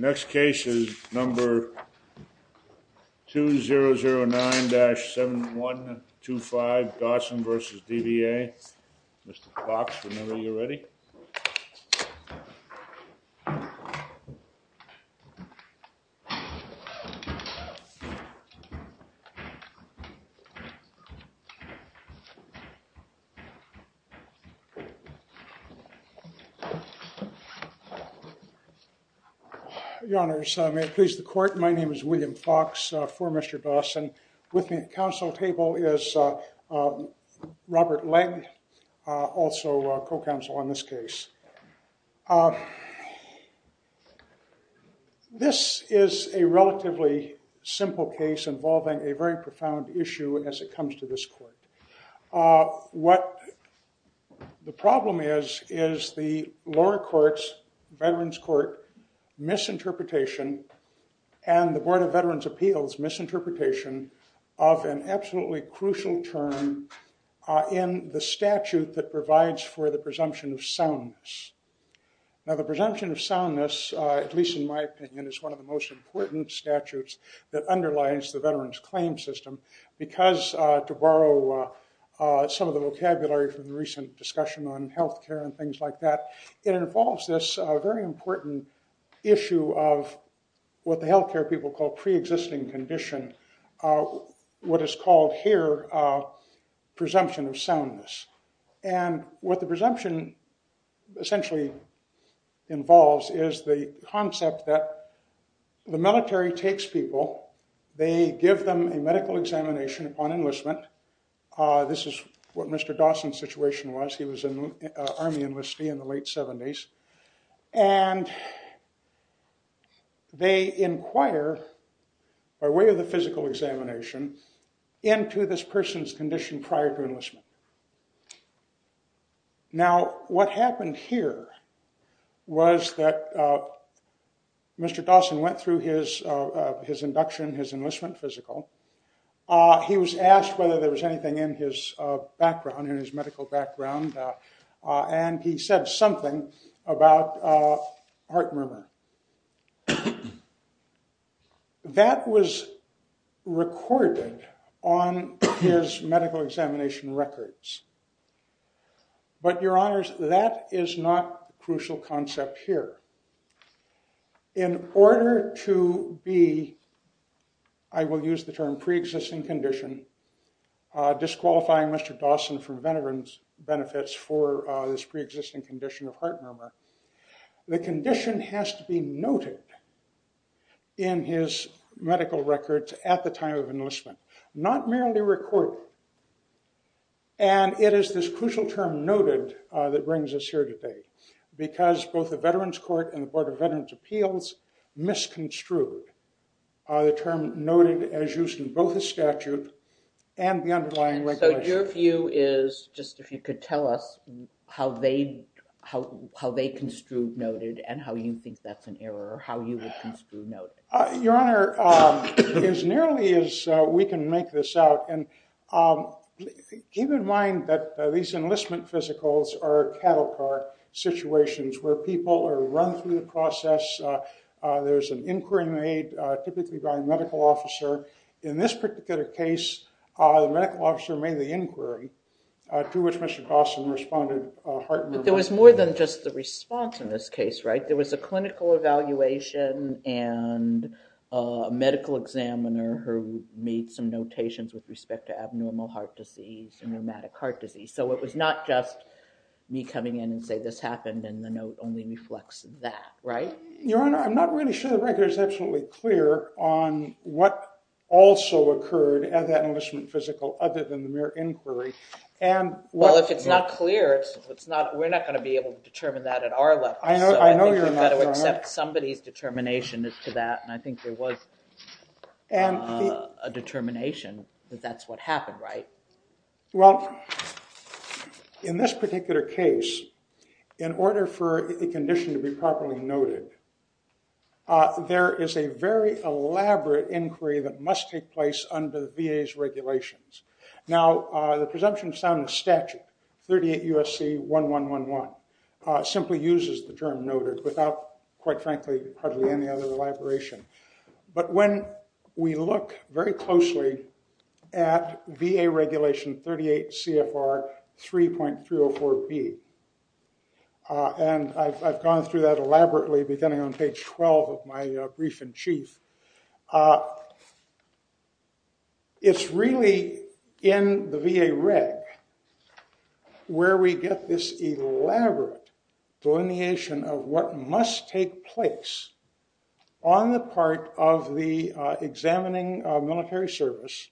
Next case is number 2009-7125, Dawson v. DVA. Mr. Fox, remember you're ready. Your Honors, may it please the court, my name is William Fox for Mr. Dawson. With me at the council table is Robert Lang, also co-counsel on this case. This is a relatively simple case involving a very profound issue as it comes to this court. What the problem is, is the lower courts, Veterans Court misinterpretation and the Board of Veterans Appeals misinterpretation of an absolutely crucial term in the statute that provides for the presumption of soundness. Now the presumption of soundness, at least in my opinion, is one of the most important statutes that underlies the Veterans Claims System. Because, to borrow some of the vocabulary from the recent discussion on health care and things like that, it involves this very important issue of what the health care people call pre-existing condition. What is called here presumption of soundness. And what the presumption essentially involves is the concept that the military takes people, they give them a medical examination upon enlistment. This is what Mr. Dawson's situation was. He was an Army enlistee in the late 70s. And they inquire, by way of the physical examination, into this person's condition prior to enlistment. Now what happened here was that Mr. Dawson went through his induction, his enlistment physical. He was asked whether there was anything in his medical background. And he said something about heart murmur. That was recorded on his medical examination records. But your honors, that is not the crucial concept here. In order to be, I will use the term pre-existing condition, disqualifying Mr. Dawson from veterans benefits for this pre-existing condition of heart murmur. The condition has to be noted in his medical records at the time of enlistment. Not merely recorded. And it is this crucial term noted that brings us here today. Because both the Veterans Court and the Board of Veterans Appeals misconstrued the term noted as used in both the statute and the underlying regulations. So your view is, just if you could tell us, how they construed noted and how you think that's an error, how you would construe noted. Your honor, as nearly as we can make this out. And keep in mind that these enlistment physicals are cattle car situations where people are run through the process. There's an inquiry made typically by a medical officer. In this particular case, the medical officer made the inquiry to which Mr. Dawson responded heart murmur. But there was more than just the response in this case, right? There was a clinical evaluation and a medical examiner who made some notations with respect to abnormal heart disease and rheumatic heart disease. So it was not just me coming in and say this happened and the note only reflects that, right? Your honor, I'm not really sure the record is absolutely clear on what also occurred at that enlistment physical other than the mere inquiry. Well, if it's not clear, we're not going to be able to determine that at our level. So I think you've got to accept somebody's determination to that. And I think there was a determination that that's what happened, right? Well, in this particular case, in order for a condition to be properly noted, there is a very elaborate inquiry that must take place under the VA's regulations. Now, the presumption found in statute, 38 U.S.C. 1111, simply uses the term noted without, quite frankly, hardly any other elaboration. But when we look very closely at VA regulation 38 CFR 3.304B, and I've gone through that elaborately beginning on page 12 of my brief in chief, it's really in the VA reg where we get this elaborate delineation of what must take place on the part of the examining military service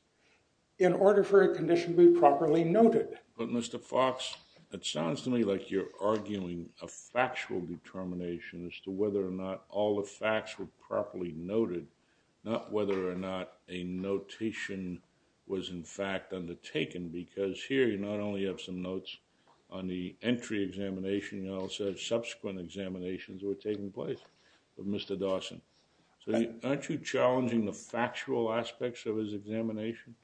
in order for a condition to be properly noted. But Mr. Fox, it sounds to me like you're arguing a factual determination as to whether or not all the facts were properly noted, not whether or not a notation was in fact undertaken, because here you not only have some notes on the entry examination, you also have subsequent examinations that were taking place with Mr. Dawson. So aren't you challenging the factual aspects of his examination?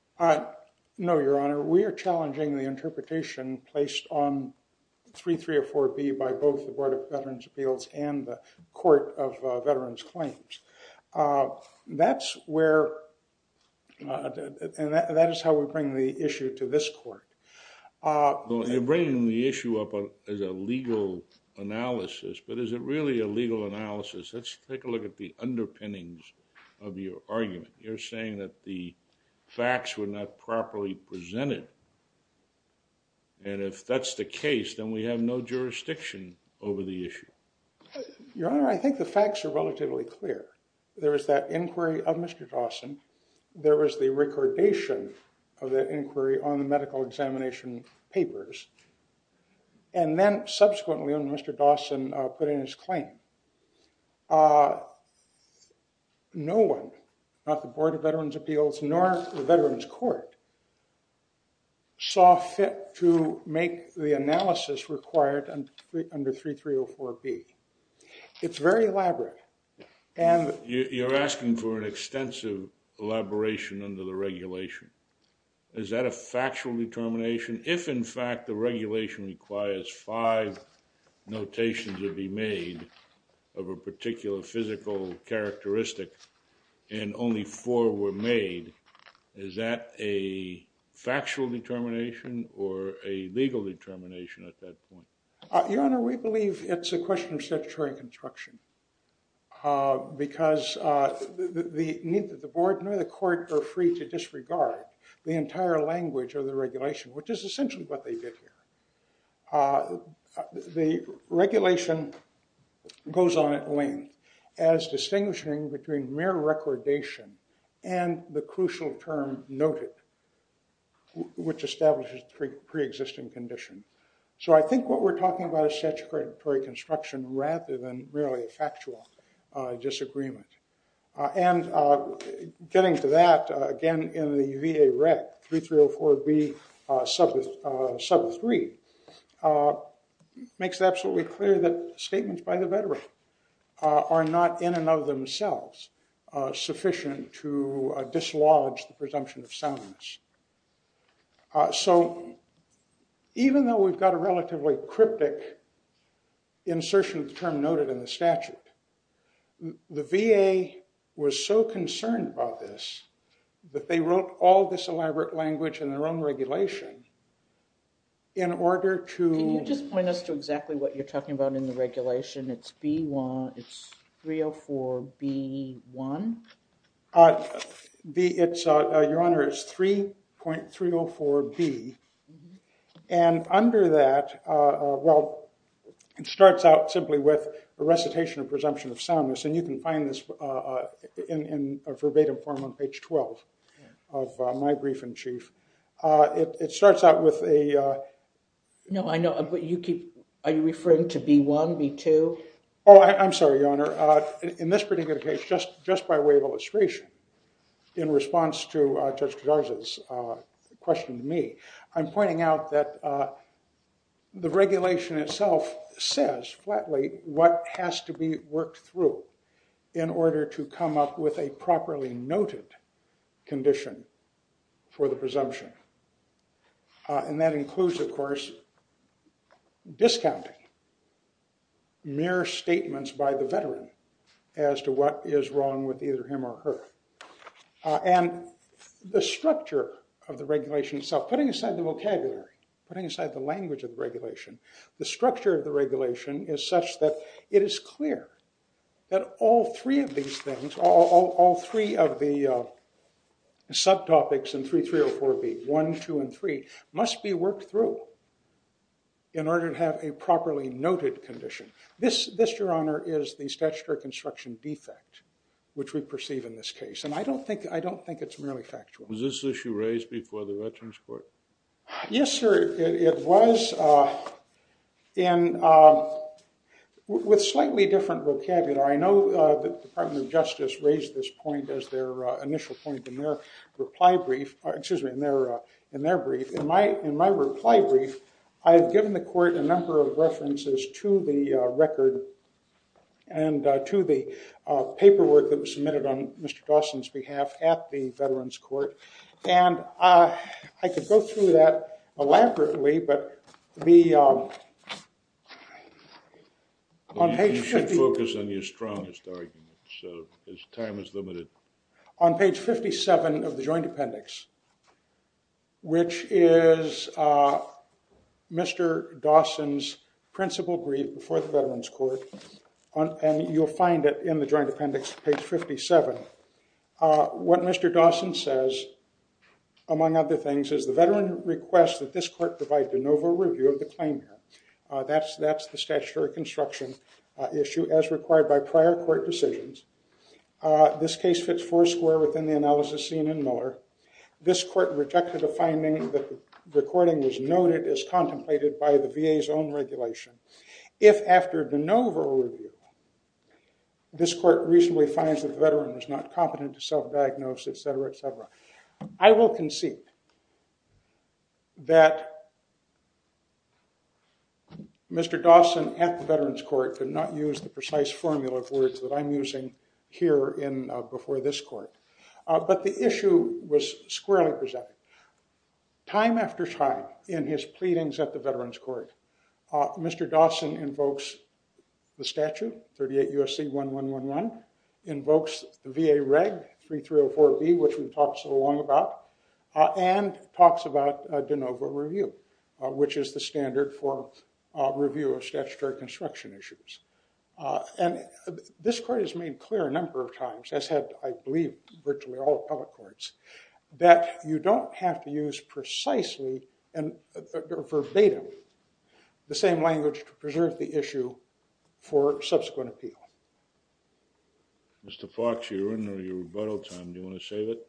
No, Your Honor. We are challenging the interpretation placed on 3.304B by both the Board of Veterans' Appeals and the Court of Veterans' Claims. That's where, and that is how we bring the issue to this court. You're bringing the issue up as a legal analysis, but is it really a legal analysis? Let's take a look at the underpinnings of your argument. You're saying that the facts were not properly presented, and if that's the case, then we have no jurisdiction over the issue. Your Honor, I think the facts are relatively clear. There was that inquiry of Mr. Dawson. There was the recordation of that inquiry on the medical examination papers, and then subsequently when Mr. Dawson put in his claim, no one, not the Board of Veterans' Appeals nor the Veterans' Court, saw fit to make the analysis required under 3.304B. It's very elaborate. You're asking for an extensive elaboration under the regulation. Is that a factual determination? If, in fact, the regulation requires five notations to be made of a particular physical characteristic and only four were made, is that a factual determination or a legal determination at that point? Your Honor, we believe it's a question of statutory construction because neither the board nor the court are free to disregard the entire language of the regulation, which is essentially what they did here. The regulation goes on at length as distinguishing between mere recordation and the crucial term noted, which establishes preexisting condition. So I think what we're talking about is statutory construction rather than really a factual disagreement. And getting to that, again, in the VA rec, 3.304B, sub 3, makes it absolutely clear that statements by the veteran are not in and of themselves sufficient to dislodge the presumption of soundness. So even though we've got a relatively cryptic insertion of the term VA was so concerned about this that they wrote all this elaborate language in their own regulation in order to- Can you just point us to exactly what you're talking about in the regulation? It's 304B1? Your Honor, it's 3.304B. And under that, well, it starts out simply with a recitation of presumption of soundness. And you can find this in a verbatim form on page 12 of my brief in chief. It starts out with a- No, I know. Are you referring to B1, B2? Oh, I'm sorry, Your Honor. In this particular case, just by way of illustration, in response to Judge Kadarza's question to me, I'm pointing out that the regulation itself says flatly what has to be worked through in order to come up with a properly noted condition for the presumption. And that includes, of course, discounting mere statements by the veteran as to what is wrong with either him or her. And the structure of the regulation itself, putting aside the vocabulary, putting aside the language of regulation, the structure of the regulation is such that it is clear that all three of these things, all three of the subtopics in 3304B, 1, 2, and 3, must be worked through in order to have a properly noted condition. This, Your Honor, is the statutory construction defect, which we perceive in this case. And I don't think it's merely factual. Was this issue raised before the Veterans Court? Yes, sir, it was. And with slightly different vocabulary, I know the Department of Justice raised this point as their initial point in their reply brief. Excuse me, in their brief. In my reply brief, I've given the court a number of references to the record and to the paperwork that was submitted on Mr. Dawson's behalf at the Veterans Court. And I could go through that elaborately, but the on page 50. You should focus on your strongest arguments. Time is limited. On page 57 of the joint appendix, which is Mr. Dawson's principal brief before the Veterans Court, and you'll find it in the joint appendix, page 57, what Mr. Dawson says, among other things, is the veteran requests that this court provide de novo review of the claim here. That's the statutory construction issue as required by prior court decisions. This case fits four square within the analysis seen in Miller. This court rejected the finding that the recording was noted as contemplated by the VA's own regulation. If after de novo review, this court reasonably finds that the veteran was not competent to self-diagnose, etc., etc., I will concede that Mr. Dawson, at the Veterans Court, could not use the precise formula of words that I'm using here before this court. But the issue was squarely presented. Time after time, in his pleadings at the Veterans Court, Mr. Dawson invokes the statute, 38 U.S.C. 1111, invokes VA Reg 3304B, which we've talked so long about, and talks about de novo review, which is the standard for review of statutory construction issues. And this court has made clear a number of times, has had, I believe, virtually all public courts, that you don't have to use precisely or verbatim the same language to preserve the issue for subsequent appeal. Mr. Fox, you're in your rebuttal time. Do you want to save it?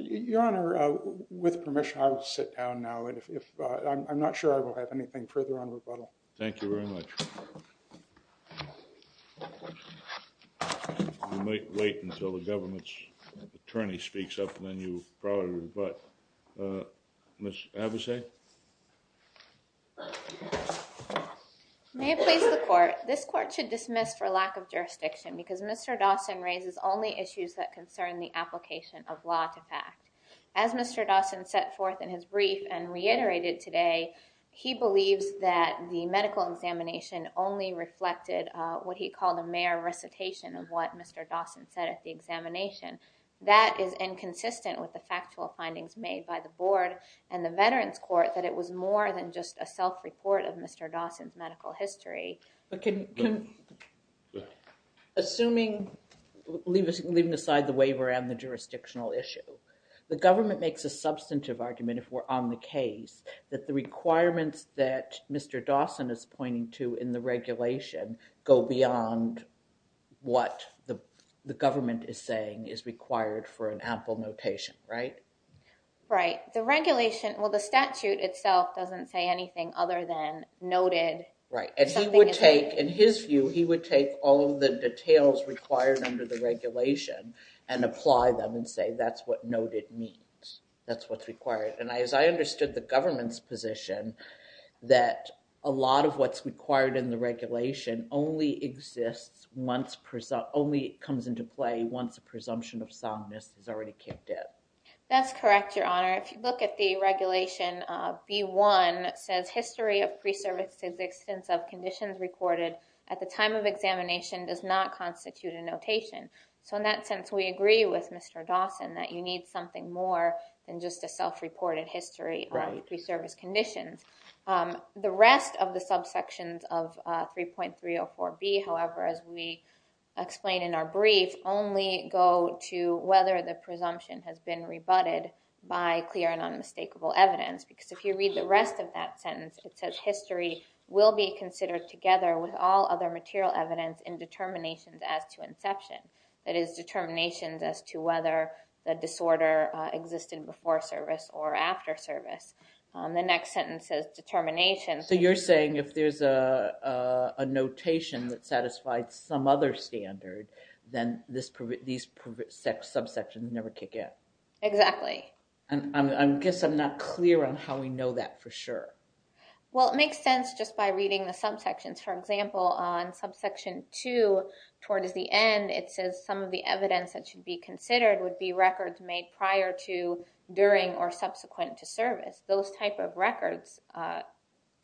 Your Honor, with permission, I will sit down now. I'm not sure I will have anything further on rebuttal. Thank you very much. You might wait until the government's attorney speaks up, and then you probably rebut. Ms. Avesay? May it please the court, this court should dismiss for lack of jurisdiction, because Mr. Dawson raises only issues that concern the application of law to fact. As Mr. Dawson set forth in his brief and reiterated today, he believes that the medical examination only reflected what he called a mere recitation of what Mr. Dawson said at the examination. That is inconsistent with the factual findings made by the Board and the Veterans Court, that it was more than just a self-report of Mr. Dawson's medical history. Assuming, leaving aside the waiver and the jurisdictional issue, the government makes a substantive argument, if we're on the case, that the requirements that Mr. Dawson is pointing to in the regulation go beyond what the government is saying is required for an ample notation, right? Right. The regulation, well, the statute itself doesn't say anything other than noted. Right. And he would take, in his view, he would take all of the details required under the regulation and apply them and say that's what noted means, that's what's required. Right. And as I understood the government's position, that a lot of what's required in the regulation only exists, only comes into play once a presumption of soundness is already kicked in. That's correct, Your Honor. If you look at the regulation, B1 says history of pre-service existence of conditions recorded at the time of examination does not constitute a notation. So in that sense, we agree with Mr. Dawson that you need something more than just a self-reported history of pre-service conditions. The rest of the subsections of 3.304B, however, as we explain in our brief, only go to whether the presumption has been rebutted by clear and unmistakable evidence. Because if you read the rest of that sentence, it says history will be considered together with all other material evidence in determinations as to inception. That is, determinations as to whether the disorder existed before service or after service. The next sentence says determination. So you're saying if there's a notation that satisfies some other standard, then these subsections never kick in. Exactly. I guess I'm not clear on how we know that for sure. Well, it makes sense just by reading the subsections. For example, on subsection 2, towards the end, it says some of the evidence that should be considered would be records made prior to, during, or subsequent to service. Those type of records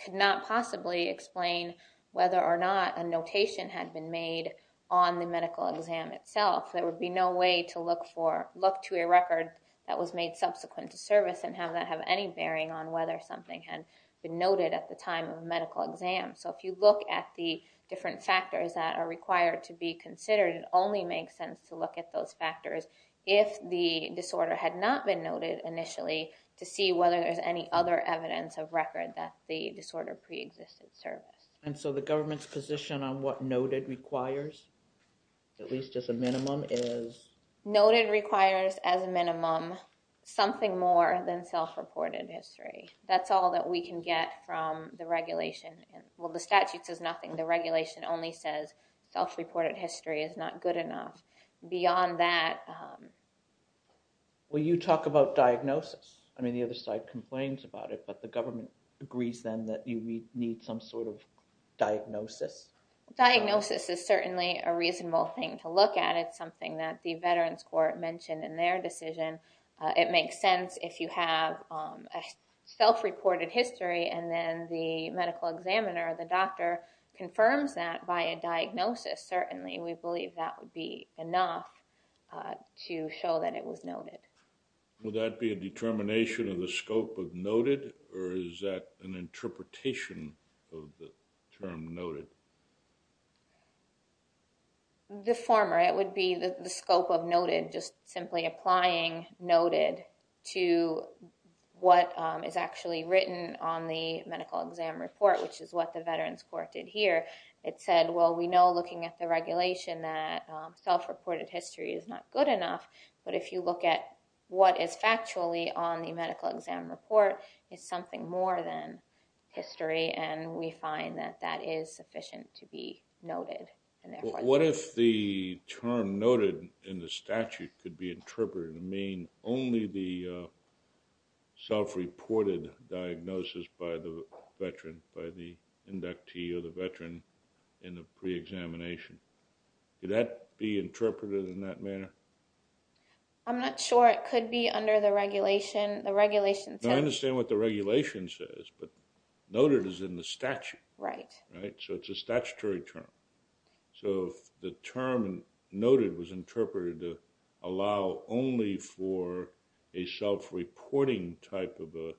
could not possibly explain whether or not a notation had been made on the medical exam itself. There would be no way to look to a record that was made subsequent to service and have that have any bearing on whether something had been noted at the time of medical exam. So if you look at the different factors that are required to be considered, it only makes sense to look at those factors if the disorder had not been noted initially to see whether there's any other evidence of record that the disorder preexisted service. And so the government's position on what noted requires, at least as a minimum, is? Noted requires, as a minimum, something more than self-reported history. That's all that we can get from the regulation. Well, the statute says nothing. The regulation only says self-reported history is not good enough. Beyond that... Well, you talk about diagnosis. I mean, the other side complains about it, but the government agrees then that you need some sort of diagnosis. Diagnosis is certainly a reasonable thing to look at. It's something that the Veterans Court mentioned in their decision. It makes sense if you have a self-reported history, and then the medical examiner or the doctor confirms that by a diagnosis. Certainly we believe that would be enough to show that it was noted. Would that be a determination of the scope of noted, or is that an interpretation of the term noted? The former. It would be the scope of noted, just simply applying noted to what is actually written on the medical exam report, which is what the Veterans Court did here. It said, well, we know looking at the regulation that self-reported history is not good enough, but if you look at what is factually on the medical exam report, it's something more than history, and we find that that is sufficient to be noted. What if the term noted in the statute could be interpreted to mean only the self-reported diagnosis by the veteran, by the inductee or the veteran in the pre-examination? Could that be interpreted in that manner? I'm not sure. It could be under the regulation. I understand what the regulation says, but noted is in the statute. Right. So it's a statutory term. So if the term noted was interpreted to allow only for a self-reporting type of a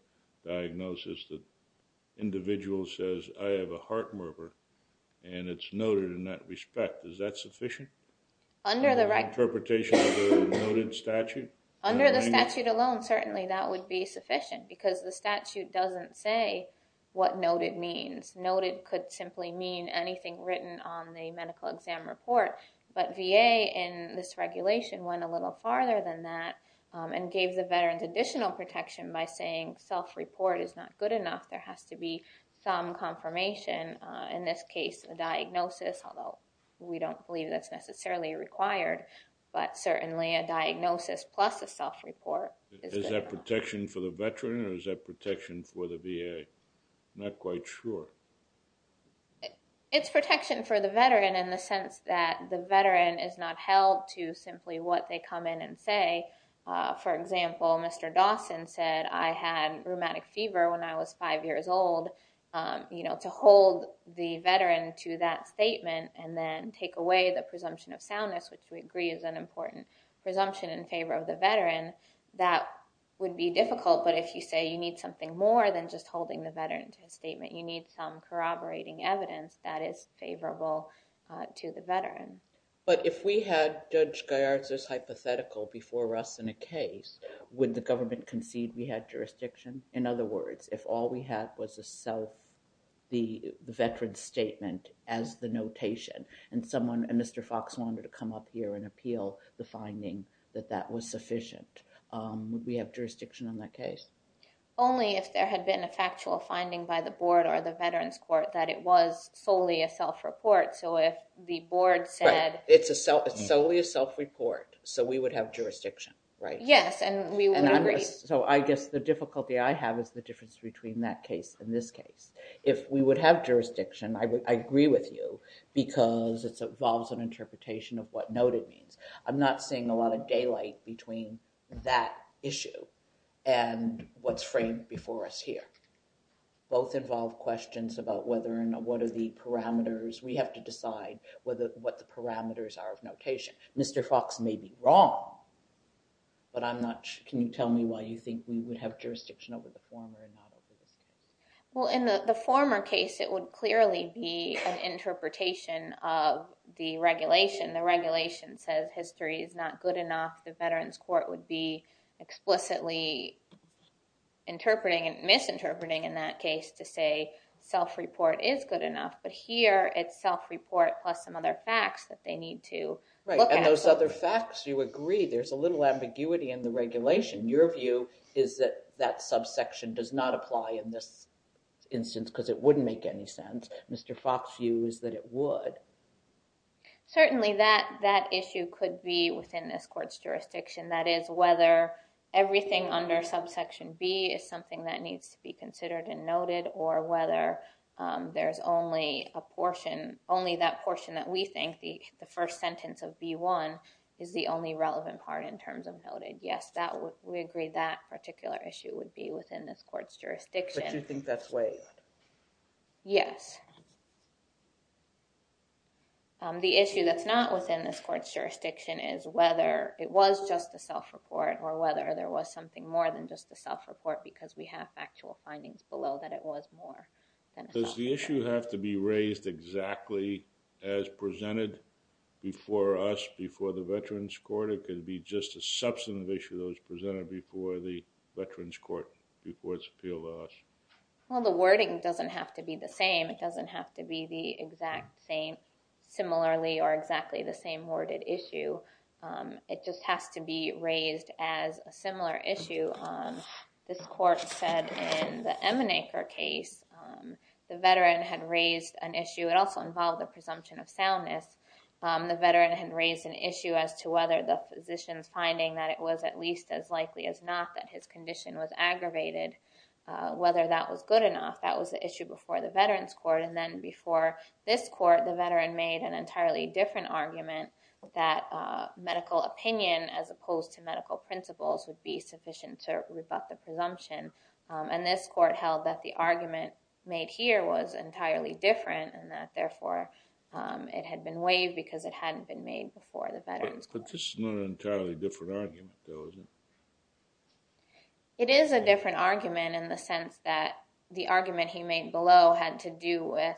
diagnosis, the individual says, I have a heart murmur, and it's noted in that respect. Is that sufficient? Under the right – Interpretation of the noted statute? Under the statute alone, certainly that would be sufficient because the statute doesn't say what noted means. Noted could simply mean anything written on the medical exam report, but VA in this regulation went a little farther than that and gave the veterans additional protection by saying self-report is not good enough. There has to be some confirmation, in this case a diagnosis, although we don't believe that's necessarily required, but certainly a diagnosis plus a self-report. Is that protection for the veteran or is that protection for the VA? I'm not quite sure. It's protection for the veteran in the sense that the veteran is not held to simply what they come in and say. For example, Mr. Dawson said, I had rheumatic fever when I was five years old. To hold the veteran to that statement and then take away the presumption of soundness, which we agree is an important presumption in favor of the veteran, that would be difficult. But if you say you need something more than just holding the veteran to a statement, you need some corroborating evidence that is favorable to the veteran. But if we had Judge Gaiard's hypothetical before us in a case, would the government concede we had jurisdiction? In other words, if all we had was the veteran's statement as the notation and Mr. Fox wanted to come up here and appeal the finding that that was sufficient, would we have jurisdiction on that case? Only if there had been a factual finding by the board or the veterans court that it was solely a self-report. So if the board said... It's solely a self-report, so we would have jurisdiction, right? Yes, and we would agree. So I guess the difficulty I have is the difference between that case and this case. If we would have jurisdiction, I agree with you, because it involves an interpretation of what noted means. I'm not seeing a lot of daylight between that issue and what's framed before us here. Both involve questions about what are the parameters. We have to decide what the parameters are of notation. Mr. Fox may be wrong, but I'm not sure. Can you tell me why you think we would have jurisdiction over the former and not over the second? Well, in the former case, it would clearly be an interpretation of the regulation. The regulation says history is not good enough. The veterans court would be explicitly interpreting and misinterpreting in that case to say self-report is good enough. But here, it's self-report plus some other facts that they need to look at. Right, and those other facts, you agree. There's a little ambiguity in the regulation. Your view is that that subsection does not apply in this instance because it wouldn't make any sense. Mr. Fox's view is that it would. Certainly, that issue could be within this court's jurisdiction. That is, whether everything under subsection B is something that needs to be considered and noted or whether there's only that portion that we think, the first sentence of B1, is the only relevant part in terms of noted. Yes, we agree that particular issue would be within this court's jurisdiction. But you think that's waived? Yes. The issue that's not within this court's jurisdiction is whether it was just the self-report or whether there was something more than just the self-report because we have factual findings below that it was more than a self-report. Does the issue have to be raised exactly as presented before us, before the Veterans Court? It could be just a substantive issue that was presented before the Veterans Court, before it's appealed to us. Well, the wording doesn't have to be the same. It doesn't have to be the exact same similarly or exactly the same worded issue. It just has to be raised as a similar issue. This court said in the Emanaker case, the veteran had raised an issue. It also involved the presumption of soundness. The veteran had raised an issue as to whether the physician's finding that it was at least as likely as not that his condition was aggravated, whether that was good enough. That was the issue before the Veterans Court. And then before this court, the veteran made an entirely different argument that medical opinion as opposed to medical principles would be sufficient to rebut the presumption. And this court held that the argument made here was entirely different and that, therefore, it had been waived because it hadn't been made before the Veterans Court. But this is not an entirely different argument, though, is it? It is a different argument in the sense that the argument he made below had to do with,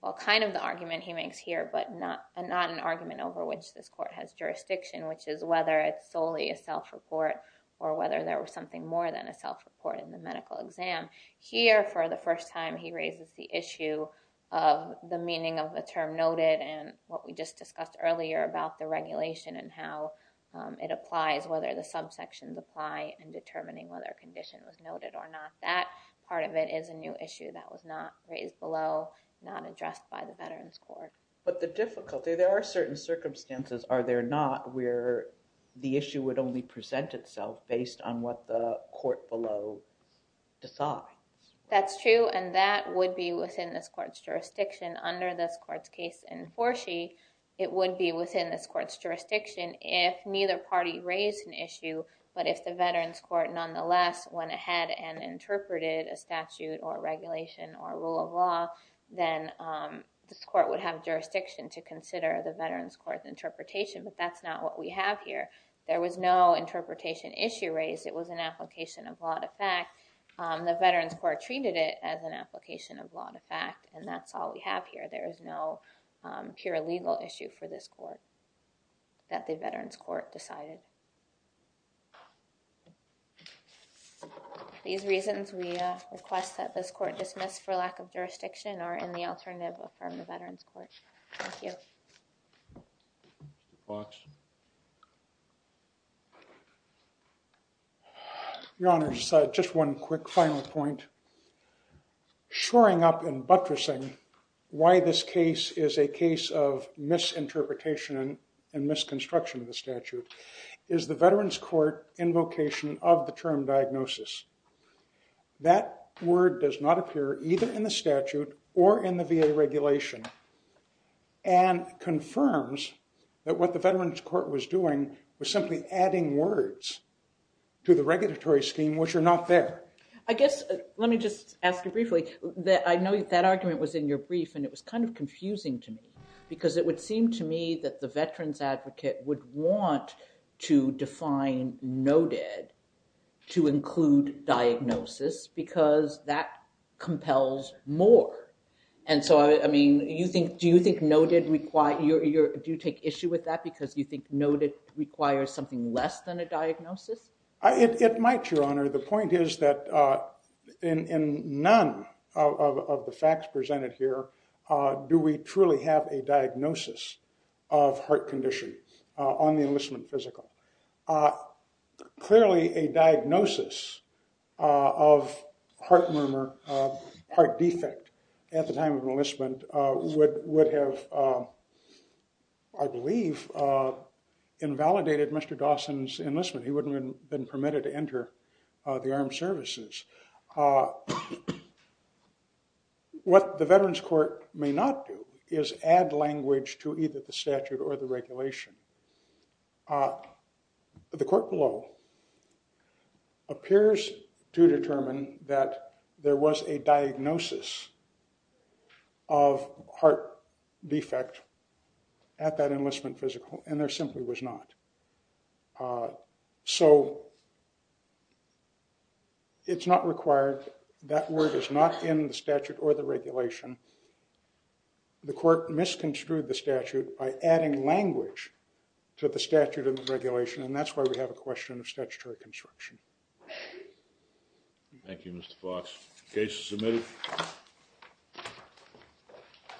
well, kind of the argument he makes here but not an argument over which this court has jurisdiction, which is whether it's solely a self-report or whether there was something more than a self-report in the medical exam. Here, for the first time, he raises the issue of the meaning of the term noted and what we just discussed earlier about the regulation and how it applies, whether the subsections apply, in determining whether a condition was noted or not. That part of it is a new issue that was not raised below, not addressed by the Veterans Court. But the difficulty, there are certain circumstances, are there not, where the issue would only present itself based on what the court below decides? That's true, and that would be within this court's jurisdiction. Under this court's case in Forsyth, it would be within this court's jurisdiction if neither party raised an issue, but if the Veterans Court nonetheless went ahead and interpreted a statute or regulation or rule of law, then this court would have jurisdiction to consider the Veterans Court's interpretation, but that's not what we have here. There was no interpretation issue raised. It was an application of law to fact. The Veterans Court treated it as an application of law to fact, and that's all we have here. There is no pure legal issue for this court that the Veterans Court decided. These reasons we request that this court dismiss for lack of jurisdiction are in the alternative from the Veterans Court. Thank you. Your Honor, just one quick final point. Shoring up and buttressing why this case is a case of misinterpretation and misconstruction of the statute is the Veterans Court invocation of the term diagnosis. That word does not appear either in the statute or in the VA regulation and confirms that what the Veterans Court was doing was simply adding words to the regulatory scheme, which are not there. Let me just ask you briefly. I know that argument was in your brief, and it was kind of confusing to me, because it would seem to me that the veterans advocate would want to define noted to include diagnosis because that compels more. I mean, do you take issue with that because you think noted requires something less than a diagnosis? It might, Your Honor. The point is that in none of the facts presented here do we truly have a diagnosis of heart condition on the enlistment physical. Clearly, a diagnosis of heart murmur, heart defect at the time of enlistment would have, I believe, invalidated Mr. Dawson's enlistment. He wouldn't have been permitted to enter the armed services. What the Veterans Court may not do is add language to either the statute or the regulation. The court below appears to determine that there was a diagnosis of heart defect at that enlistment physical, and there simply was not. So it's not required. That word is not in the statute or the regulation. The court misconstrued the statute by adding language to the statute and the regulation, and that's why we have a question of statutory construction. Thank you, Mr. Fox. Case is submitted.